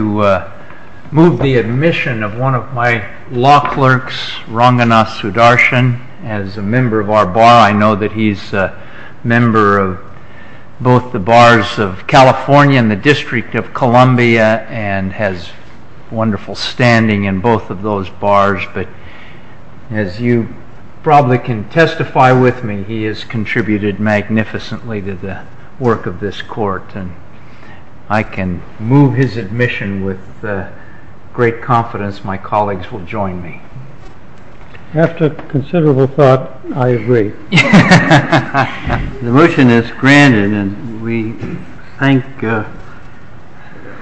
I would like to move the admission of one of my law clerks, Ranganath Sudarshan, as a member of our Bar. I know that he is a member of both the Bars of California and the District of Columbia, and has wonderful standing in both of those Bars. As you probably can testify with me, he has contributed magnificently to the work of this Court. I can move his admission with great confidence my colleagues will join me. After considerable thought, I agree. The motion is granted, and we thank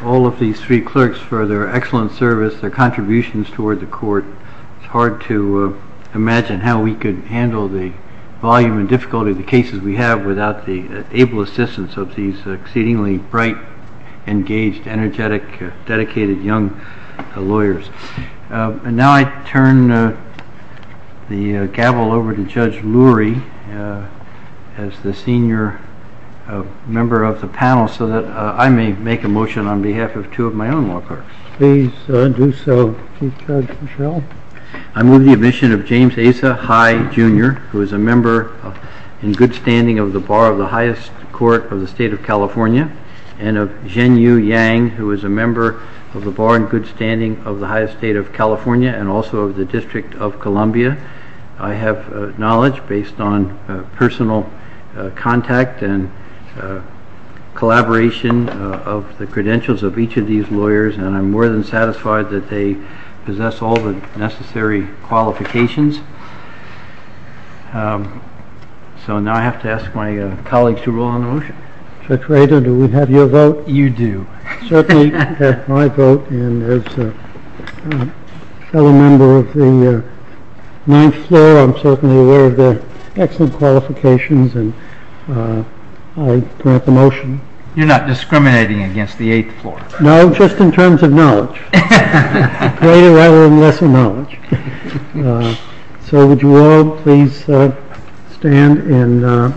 all of these three clerks for their excellent service, their contributions toward the Court. It's hard to imagine how we could handle the volume and difficulty of the cases we have without the able assistance of these exceedingly bright, engaged, energetic, dedicated young lawyers. And now I turn the gavel over to Judge Lurie as the senior member of the panel so that I may make a motion on behalf of two of my own law clerks. Please do so, Judge Michel. I move the admission of James Asa High, Jr., who is a member in good standing of the Bar of the highest court of the State of California, and of Zhenyu Yang, who is a member of the Bar in good standing of the highest state of California and also of the District of Columbia. I have knowledge based on personal contact and collaboration of the credentials of each of these lawyers, and I'm more than satisfied that they possess all the necessary qualifications. So now I have to ask my colleagues to rule on the motion. Judge Rader, do we have your vote? You do. Certainly you can have my vote, and as a fellow member of the Ninth Floor, I'm certainly aware of their excellent qualifications, and I grant the motion. You're not discriminating against the Eighth Floor? No, just in terms of knowledge. Greater rather than lesser knowledge. So would you all please stand and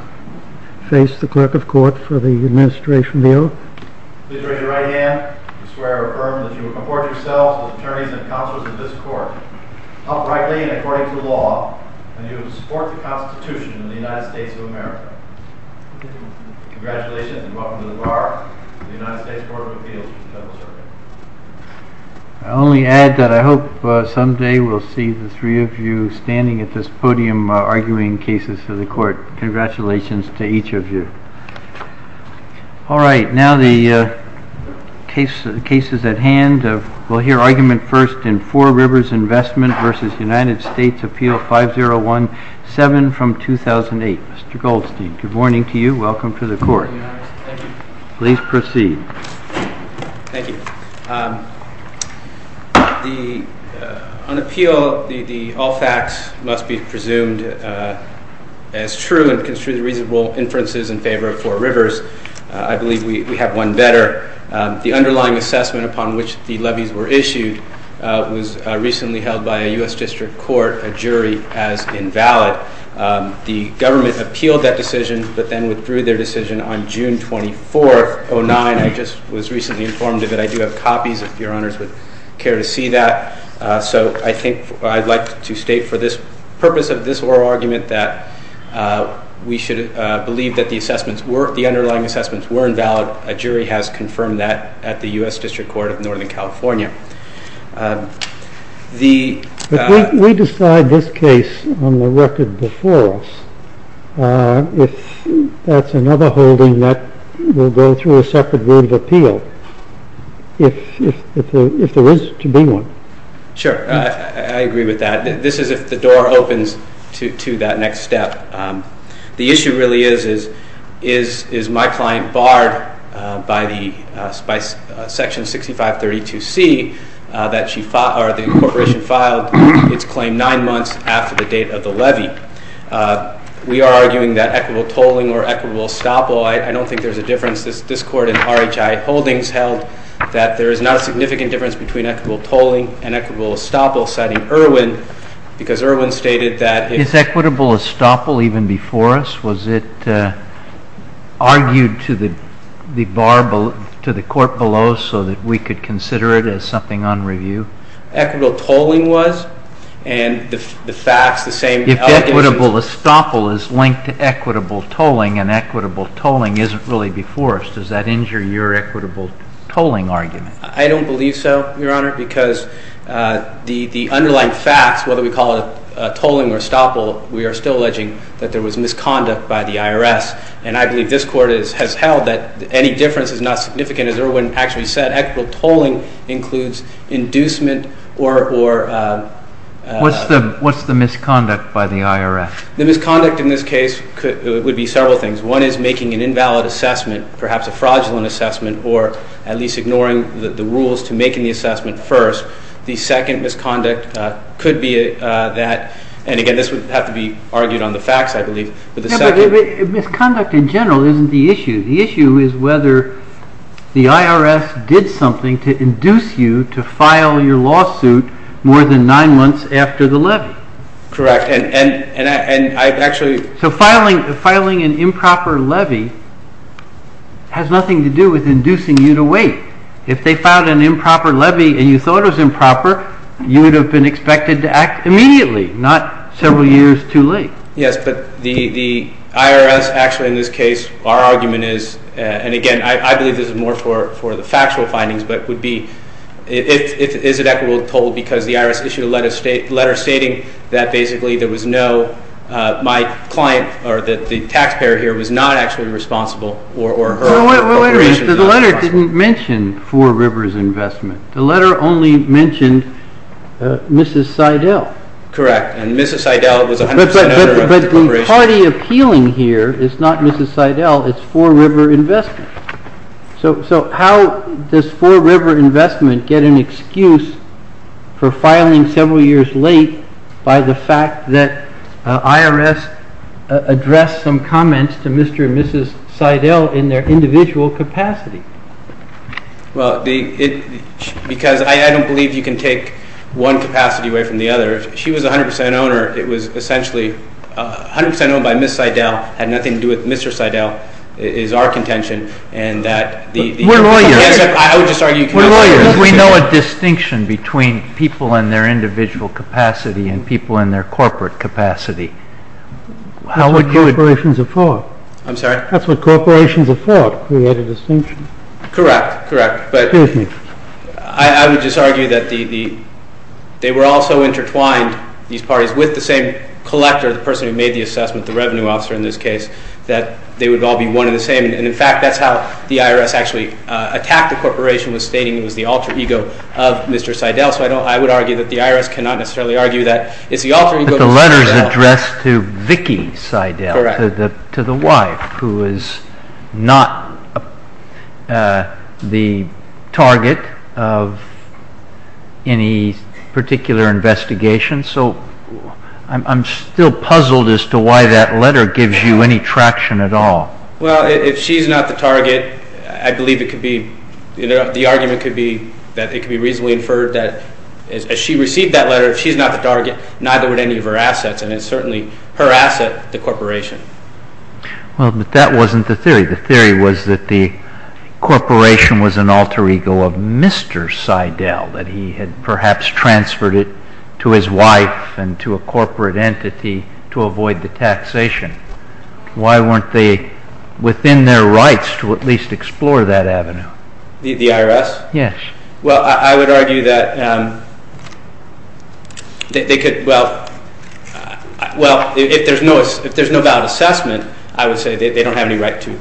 face the clerk of court for the administration of the oath? Please raise your right hand. I swear or affirm that you will comport yourselves as attorneys and counselors of this court, uprightly and according to law, and you will support the Constitution of the United States of America. Congratulations and welcome to the Bar of the United States Court of Appeals. I only add that I hope someday we'll see the three of you standing at this podium arguing cases for the court. Congratulations to each of you. All right. Now the cases at hand. We'll hear argument first in Four Rivers Investment v. United States Appeal 5017 from 2008. Mr. Goldstein, good morning to you. Welcome to the court. Thank you. Please proceed. Thank you. On appeal, the all facts must be presumed as true and construed reasonable inferences in favor of Four Rivers. I believe we have one better. The underlying assessment upon which the levies were issued was recently held by a U.S. District Court, a jury, as invalid. The government appealed that decision but then withdrew their decision on June 24, 2009. I just was recently informed of it. I do have copies if your honors would care to see that. So I think I'd like to state for the purpose of this oral argument that we should believe that the underlying assessments were invalid. A jury has confirmed that at the U.S. District Court of Northern California. We decide this case on the record before us. If that's another holding, that will go through a separate room of appeal. If there is to be one. Sure. I agree with that. This is if the door opens to that next step. The issue really is, is my client barred by the section 6532C that the corporation filed its claim nine months after the date of the levy. We are arguing that equitable tolling or equitable estoppel, I don't think there's a difference. This court in RHI Holdings held that there is not a significant difference between equitable tolling and equitable estoppel, citing Irwin, because Irwin stated that if it's equitable estoppel even before us, was it argued to the court below so that we could consider it as something on review? Equitable tolling was, and the facts, the same allegations. If equitable estoppel is linked to equitable tolling and equitable tolling isn't really before us, does that injure your equitable tolling argument? I don't believe so, Your Honor, because the underlying facts, whether we call it tolling or estoppel, we are still alleging that there was misconduct by the IRS. And I believe this court has held that any difference is not significant, as Irwin actually said. Equitable tolling includes inducement or... What's the misconduct by the IRS? The misconduct in this case would be several things. One is making an invalid assessment, perhaps a fraudulent assessment, or at least ignoring the rules to making the assessment first. The second misconduct could be that, and again, this would have to be argued on the facts, I believe, but the second... But misconduct in general isn't the issue. The issue is whether the IRS did something to induce you to file your lawsuit more than nine months after the levy. Correct, and I've actually... So filing an improper levy has nothing to do with inducing you to wait. If they filed an improper levy and you thought it was improper, you would have been expected to act immediately, not several years too late. Yes, but the IRS actually, in this case, our argument is, and again, I believe this is more for the factual findings, but would be... Is it equitable to toll because the IRS issued a letter stating that basically there was no... My client or the taxpayer here was not actually responsible or her corporation... Wait a minute, the letter didn't mention Four Rivers Investment. The letter only mentioned Mrs. Seidel. Correct, and Mrs. Seidel was 100% owner of the corporation. But the party appealing here is not Mrs. Seidel, it's Four River Investment. So how does Four River Investment get an excuse for filing several years late by the fact that IRS addressed some comments to Mr. and Mrs. Seidel in their individual capacity? Well, because I don't believe you can take one capacity away from the other. If she was 100% owner, it was essentially 100% owned by Mrs. Seidel, had nothing to do with Mr. Seidel, is our contention, and that... We're lawyers. I would just argue... We're lawyers. We know a distinction between people in their individual capacity and people in their corporate capacity. That's what corporations are for. I'm sorry? That's what corporations are for, to create a distinction. Correct, correct, but... Excuse me. I would just argue that they were also intertwined, these parties, with the same collector, the person who made the assessment, the revenue officer in this case, that they would all be one and the same. And, in fact, that's how the IRS actually attacked the corporation, was stating it was the alter ego of Mr. Seidel. So I would argue that the IRS cannot necessarily argue that it's the alter ego of Mr. Seidel. Is there a target of any particular investigation? So I'm still puzzled as to why that letter gives you any traction at all. Well, if she's not the target, I believe it could be... The argument could be that it could be reasonably inferred that as she received that letter, if she's not the target, neither would any of her assets, and it's certainly her asset, the corporation. Well, but that wasn't the theory. The theory was that the corporation was an alter ego of Mr. Seidel, that he had perhaps transferred it to his wife and to a corporate entity to avoid the taxation. Why weren't they within their rights to at least explore that avenue? The IRS? Yes. Well, I would argue that they could... Well, if there's no valid assessment, I would say they don't have any right to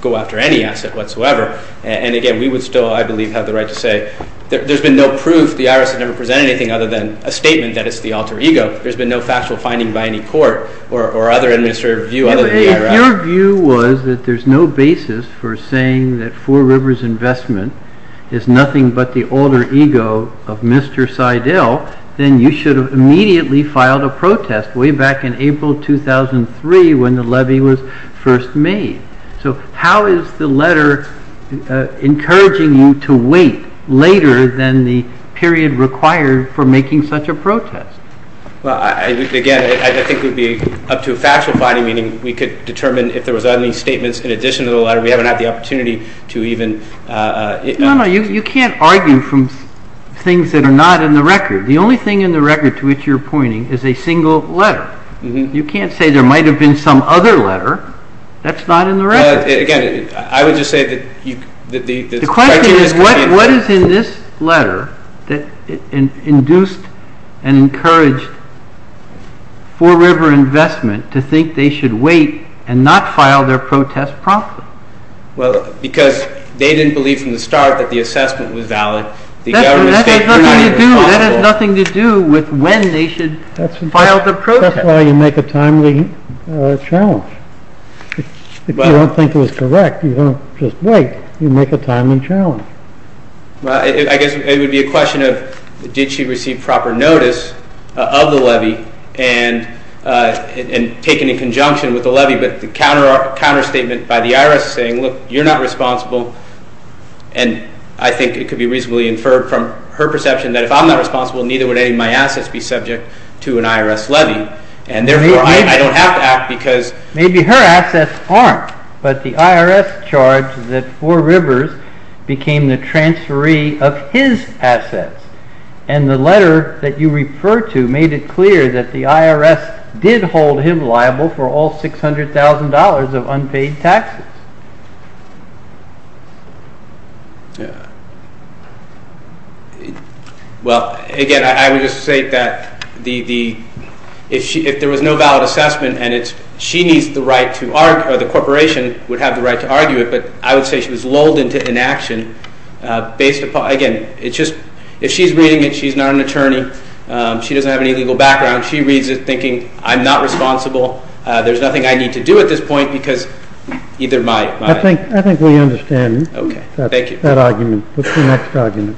go after any asset whatsoever. And, again, we would still, I believe, have the right to say there's been no proof. The IRS has never presented anything other than a statement that it's the alter ego. There's been no factual finding by any court or other administrative view other than the IRS. If your view was that there's no basis for saying that Four Rivers Investment is nothing but the alter ego of Mr. Seidel, then you should have immediately filed a protest way back in April 2003 when the levy was first made. So how is the letter encouraging you to wait later than the period required for making such a protest? Well, again, I think it would be up to a factual finding, meaning we could determine if there was any statements in addition to the letter. We haven't had the opportunity to even... No, no. You can't argue from things that are not in the record. The only thing in the record to which you're pointing is a single letter. You can't say there might have been some other letter that's not in the record. The question is what is in this letter that induced and encouraged Four River Investment to think they should wait and not file their protest promptly? Well, because they didn't believe from the start that the assessment was valid. That has nothing to do with when they should file the protest. That's why you make a timely challenge. If you don't think it was correct, you don't just wait. You make a timely challenge. Well, I guess it would be a question of did she receive proper notice of the levy and take it in conjunction with the levy? But the counterstatement by the IRS is saying, look, you're not responsible. And I think it could be reasonably inferred from her perception that if I'm not responsible, neither would any of my assets be subject to an IRS levy. And therefore, I don't have to act because... Maybe her assets aren't. But the IRS charged that Four Rivers became the transferee of his assets. And the letter that you refer to made it clear that the IRS did hold him liable for all $600,000 of unpaid taxes. Well, again, I would just say that if there was no valid assessment and she needs the right to argue, or the corporation would have the right to argue it, but I would say she was lulled into inaction based upon... Again, if she's reading it, she's not an attorney, she doesn't have any legal background, she reads it thinking, I'm not responsible, there's nothing I need to do at this point because either my... I think we understand that argument. What's the next argument?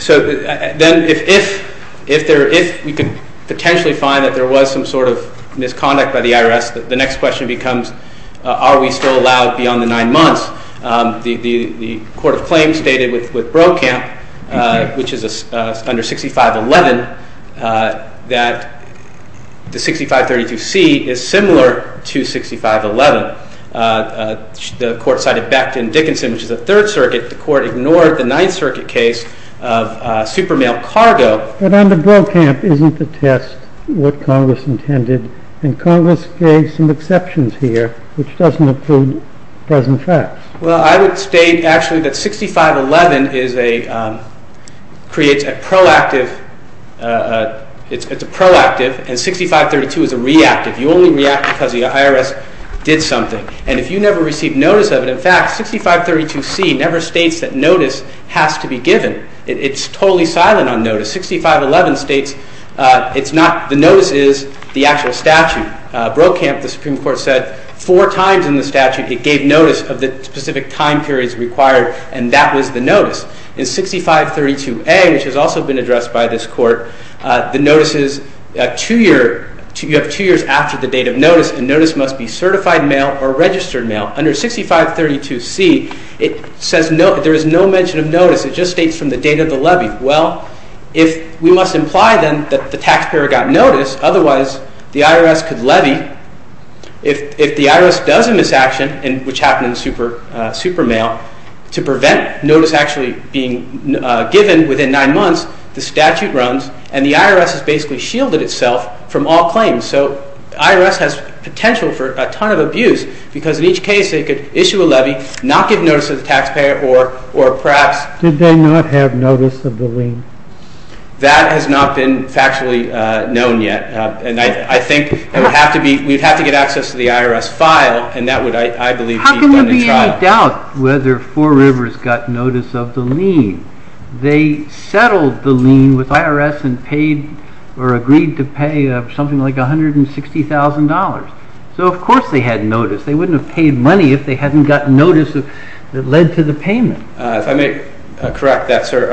So then if we could potentially find that there was some sort of misconduct by the IRS, the next question becomes, are we still allowed beyond the nine months? The Court of Claims stated with Brokamp, which is under 6511, that the 6532C is similar to 6511. The Court cited Becton-Dickinson, which is a Third Circuit. The Court ignored the Ninth Circuit case of Supermail Cargo. But under Brokamp, isn't the test what Congress intended? And Congress gave some exceptions here, which doesn't include present facts. Well, I would state actually that 6511 creates a proactive, it's a proactive, and 6532 is a reactive. You only react because the IRS did something. And if you never received notice of it, in fact, 6532C never states that notice has to be given. It's totally silent on notice. 6511 states it's not, the notice is the actual statute. Brokamp, the Supreme Court, said four times in the statute it gave notice of the specific time periods required, and that was the notice. In 6532A, which has also been addressed by this Court, the notice is two years, you have two years after the date of notice, and notice must be certified mail or registered mail. Under 6532C, it says there is no mention of notice. It just states from the date of the levy. Well, if we must imply then that the taxpayer got notice, otherwise the IRS could levy. If the IRS does a misaction, which happened in Supermail, to prevent notice actually being given within nine months, the statute runs, and the IRS has basically shielded itself from all claims. So the IRS has potential for a ton of abuse, because in each case they could issue a levy, not give notice to the taxpayer, or perhaps... Did they not have notice of the lien? That has not been factually known yet. And I think we'd have to get access to the IRS file, and that would, I believe, be funded trial. How can there be any doubt whether Four Rivers got notice of the lien? They settled the lien with IRS and agreed to pay something like $160,000. So of course they had notice. They wouldn't have paid money if they hadn't gotten notice that led to the payment. If I may correct that, sir,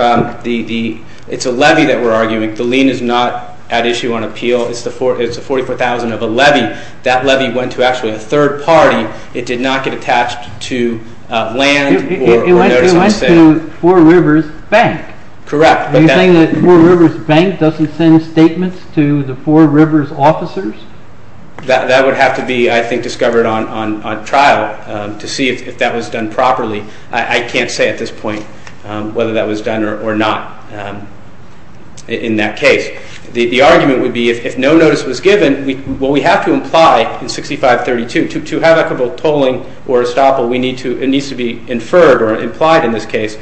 it's a levy that we're arguing. The lien is not at issue on appeal. It's a $44,000 of a levy. That levy went to actually a third party. It did not get attached to land or notice on sale. It went to Four Rivers Bank. Correct. Are you saying that Four Rivers Bank doesn't send statements to the Four Rivers officers? That would have to be, I think, discovered on trial to see if that was done properly. I can't say at this point whether that was done or not in that case. The argument would be if no notice was given, what we have to imply in 6532, to have equitable tolling or estoppel, it needs to be inferred or implied in this case.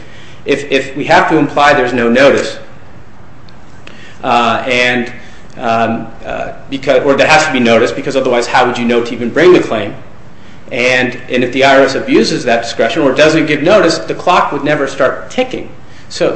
If we have to imply there's no notice, or there has to be notice, because otherwise how would you know to even bring the claim? And if the IRS abuses that discretion or doesn't give notice, the clock would never start ticking. So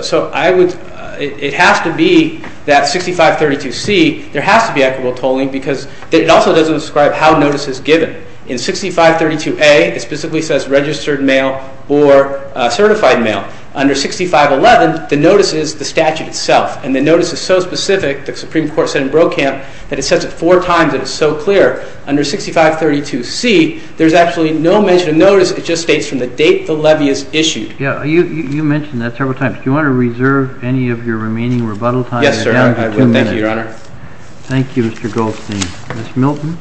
it has to be that 6532C, there has to be equitable tolling because it also doesn't describe how notice is given. In 6532A, it specifically says registered mail or certified mail. Under 6511, the notice is the statute itself. And the notice is so specific, the Supreme Court said in Brokamp, that it says it four times and it's so clear. Under 6532C, there's actually no mention of notice. It just states from the date the levy is issued. You mentioned that several times. Do you want to reserve any of your remaining rebuttal time? Yes, sir. Thank you, Your Honor. Thank you, Mr. Goldstein. Ms. Milton?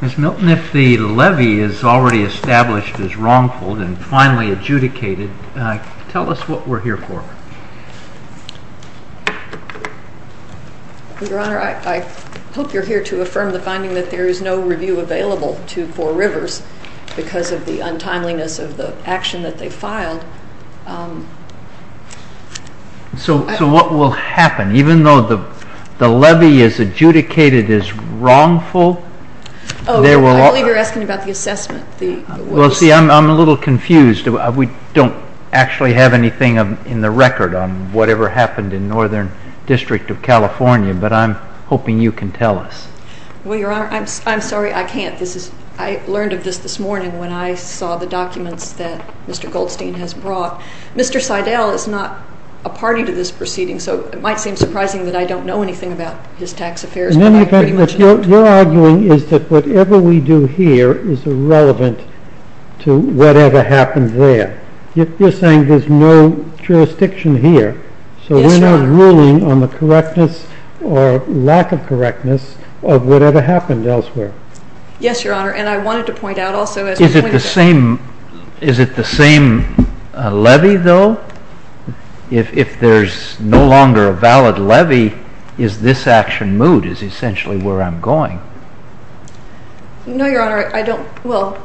Ms. Milton, if the levy is already established as wrongful and finally adjudicated, tell us what we're here for. Your Honor, I hope you're here to affirm the finding that there is no review available for Rivers because of the untimeliness of the action that they filed. So what will happen? Even though the levy is adjudicated as wrongful? I believe you're asking about the assessment. Well, see, I'm a little confused. We don't actually have anything in the record on whatever happened in Northern District of California, but I'm hoping you can tell us. Well, Your Honor, I'm sorry, I can't. I learned of this this morning when I saw the documents that Mr. Goldstein has brought. Mr. Seidel is not a party to this proceeding, so it might seem surprising that I don't know anything about his tax affairs, but I pretty much don't. In any event, what you're arguing is that whatever we do here is irrelevant to whatever happened there. You're saying there's no jurisdiction here, so we're not ruling on the correctness or lack of correctness of whatever happened elsewhere. Yes, Your Honor, and I wanted to point out also as well. Is it the same levy, though? If there's no longer a valid levy, is this action moot is essentially where I'm going. No, Your Honor, I don't. Well,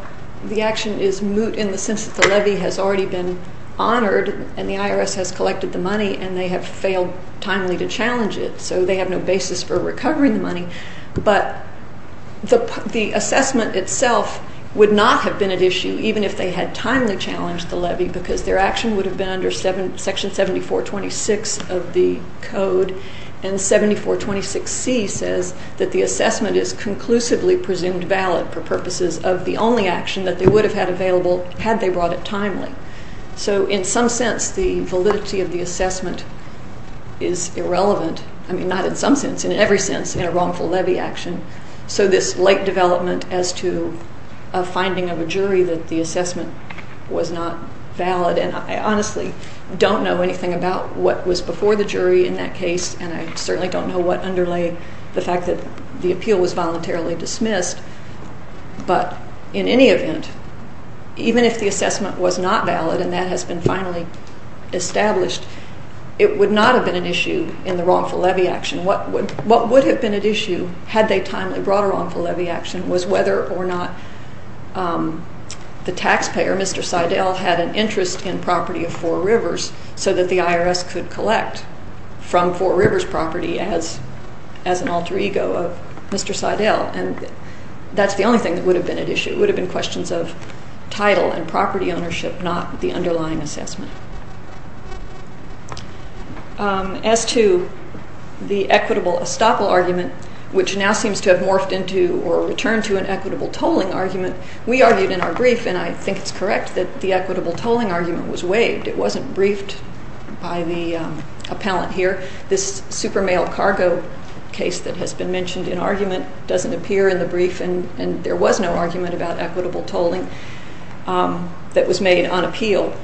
the action is moot in the sense that the levy has already been honored and the IRS has collected the money and they have failed timely to challenge it, so they have no basis for recovering the money, but the assessment itself would not have been at issue even if they had timely challenged the levy because their action would have been under Section 7426 of the code, and 7426C says that the assessment is conclusively presumed valid for purposes of the only action that they would have had available had they brought it timely. So in some sense, the validity of the assessment is irrelevant. I mean, not in some sense, in every sense in a wrongful levy action. So this late development as to a finding of a jury that the assessment was not valid, and I honestly don't know anything about what was before the jury in that case, and I certainly don't know what underlay the fact that the appeal was voluntarily dismissed, but in any event, even if the assessment was not valid and that has been finally established, it would not have been an issue in the wrongful levy action. What would have been at issue had they timely brought a wrongful levy action was whether or not the taxpayer, Mr. Seidel, had an interest in property of Four Rivers so that the IRS could collect from Four Rivers property as an alter ego of Mr. Seidel, and that's the only thing that would have been at issue. It would have been questions of title and property ownership, not the underlying assessment. As to the equitable estoppel argument, which now seems to have morphed into or returned to an equitable tolling argument, we argued in our brief, and I think it's correct that the equitable tolling argument was waived. It wasn't briefed by the appellant here. This super mail cargo case that has been mentioned in argument doesn't appear in the brief, and there was no argument about equitable tolling that was made on appeal.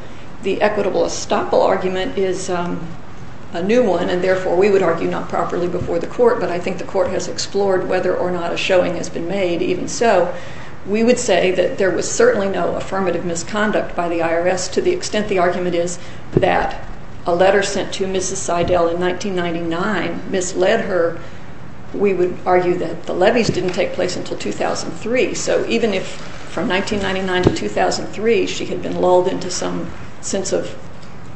The equitable estoppel argument is a new one, and therefore we would argue not properly before the court, but I think the court has explored whether or not a showing has been made. Even so, we would say that there was certainly no affirmative misconduct by the IRS, to the extent the argument is that a letter sent to Mrs. Seidel in 1999 misled her. We would argue that the levies didn't take place until 2003, so even if from 1999 to 2003 she had been lulled into some sense of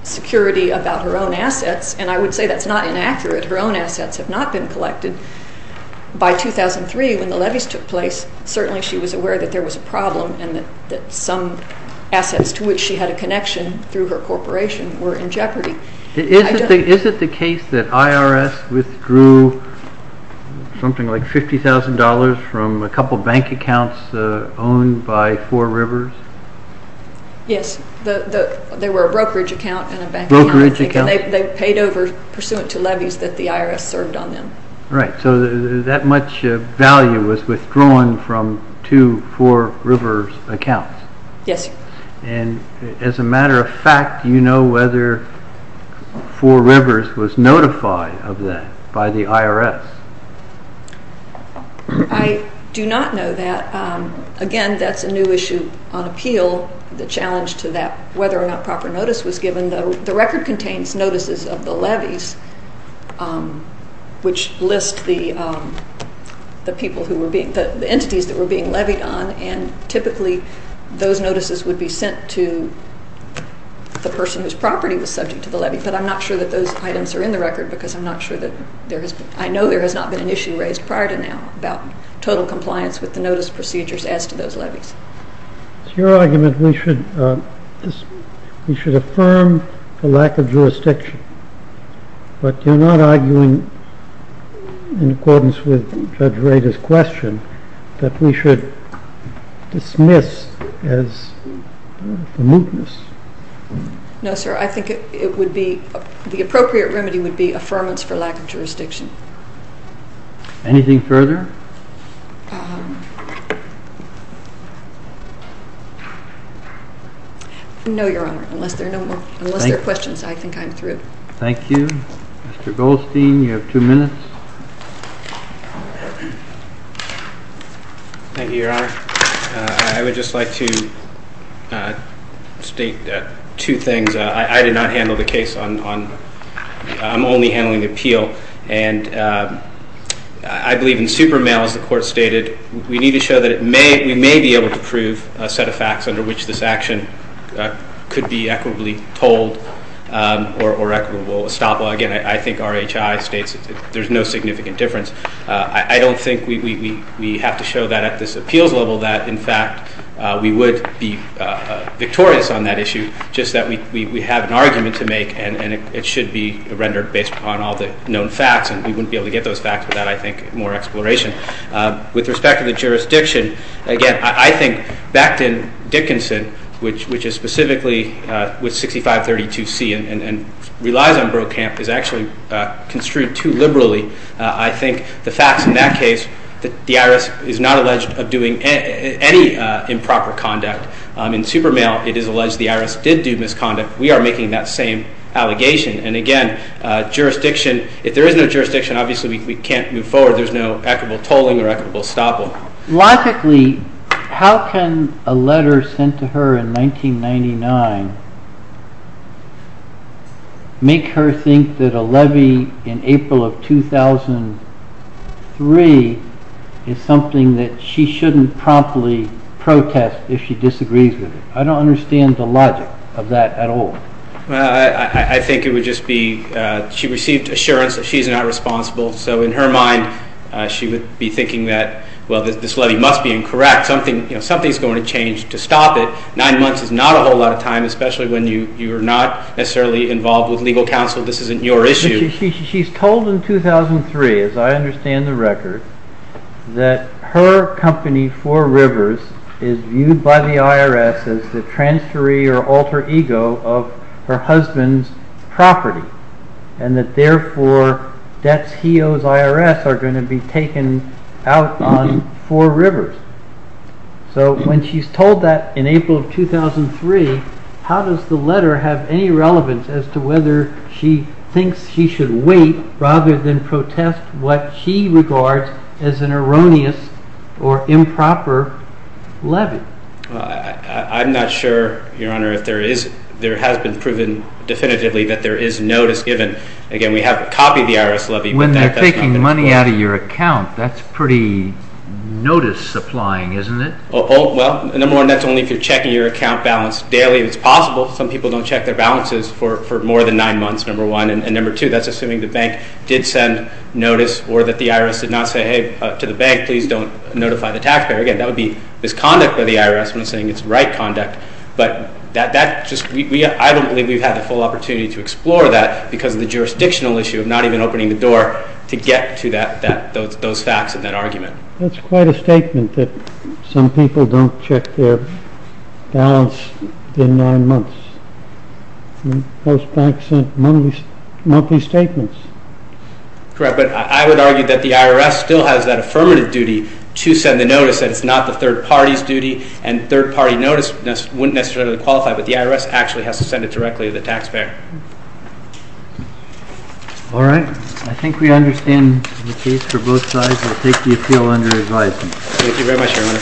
security about her own assets, and I would say that's not inaccurate. Her own assets have not been collected. By 2003, when the levies took place, certainly she was aware that there was a problem and that some assets to which she had a connection through her corporation were in jeopardy. Is it the case that IRS withdrew something like $50,000 from a couple bank accounts owned by Four Rivers? Yes. They were a brokerage account and a bank account. Brokerage account. They paid over pursuant to levies that the IRS served on them. Right, so that much value was withdrawn from two Four Rivers accounts. Yes. And as a matter of fact, do you know whether Four Rivers was notified of that by the IRS? I do not know that. Again, that's a new issue on appeal, the challenge to that whether or not proper notice was given. The record contains notices of the levies which list the entities that were being levied on, and typically those notices would be sent to the person whose property was subject to the levy, but I'm not sure that those items are in the record because I'm not sure that there has been. I know there has not been an issue raised prior to now about total compliance with the notice procedures as to those levies. It's your argument we should affirm the lack of jurisdiction, but you're not arguing in accordance with Judge Rader's question that we should dismiss as a mootness. No, sir. I think the appropriate remedy would be affirmance for lack of jurisdiction. Anything further? No, Your Honor, unless there are questions, I think I'm through. Thank you. Mr. Goldstein, you have two minutes. Thank you, Your Honor. I would just like to state two things. I did not handle the case on – I'm only handling the appeal, and I believe in super male, as the Court stated. We need to show that we may be able to prove a set of facts under which this action could be equitably told or equitable. Again, I think RHI states there's no significant difference. I don't think we have to show that at this appeals level that, in fact, we would be victorious on that issue, just that we have an argument to make, and it should be rendered based upon all the known facts, and we wouldn't be able to get those facts without, I think, more exploration. With respect to the jurisdiction, again, I think Becton Dickinson, which is specifically with 6532C and relies on Brokamp, is actually construed too liberally. I think the facts in that case, the IRS is not alleged of doing any improper conduct. In super male, it is alleged the IRS did do misconduct. We are making that same allegation. And again, jurisdiction – if there is no jurisdiction, obviously we can't move forward. There's no equitable tolling or equitable stoppable. Logically, how can a letter sent to her in 1999 make her think that a levy in April of 2003 is something that she shouldn't promptly protest if she disagrees with it? I don't understand the logic of that at all. I think it would just be she received assurance that she's not responsible, so in her mind, she would be thinking that, well, this levy must be incorrect. Something is going to change to stop it. Nine months is not a whole lot of time, especially when you are not necessarily involved with legal counsel. This isn't your issue. She's told in 2003, as I understand the record, that her company, Four Rivers, is viewed by the IRS as the transferee or alter ego of her husband's property, and that therefore debts he owes IRS are going to be taken out on Four Rivers. So when she's told that in April of 2003, how does the letter have any relevance as to whether she thinks she should wait rather than protest what she regards as an erroneous or improper levy? I'm not sure, Your Honor, if there has been proven definitively that there is notice given. Again, we have copied the IRS levy. When they're taking money out of your account, that's pretty notice supplying, isn't it? Well, number one, that's only if you're checking your account balance daily. It's possible some people don't check their balances for more than nine months, number one. And number two, that's assuming the bank did send notice or that the IRS did not say, hey, to the bank, please don't notify the taxpayer. Again, that would be misconduct by the IRS when it's saying it's right conduct. But I don't believe we've had the full opportunity to explore that because of the jurisdictional issue of not even opening the door to get to those facts and that argument. That's quite a statement that some people don't check their balance in nine months. Most banks send monthly statements. Correct, but I would argue that the IRS still has that affirmative duty to send the notice that it's not the third party's duty, and third-party notice wouldn't necessarily qualify, but the IRS actually has to send it directly to the taxpayer. All right. I think we understand the case for both sides. I take the appeal under advisement. Thank you very much, Your Honor.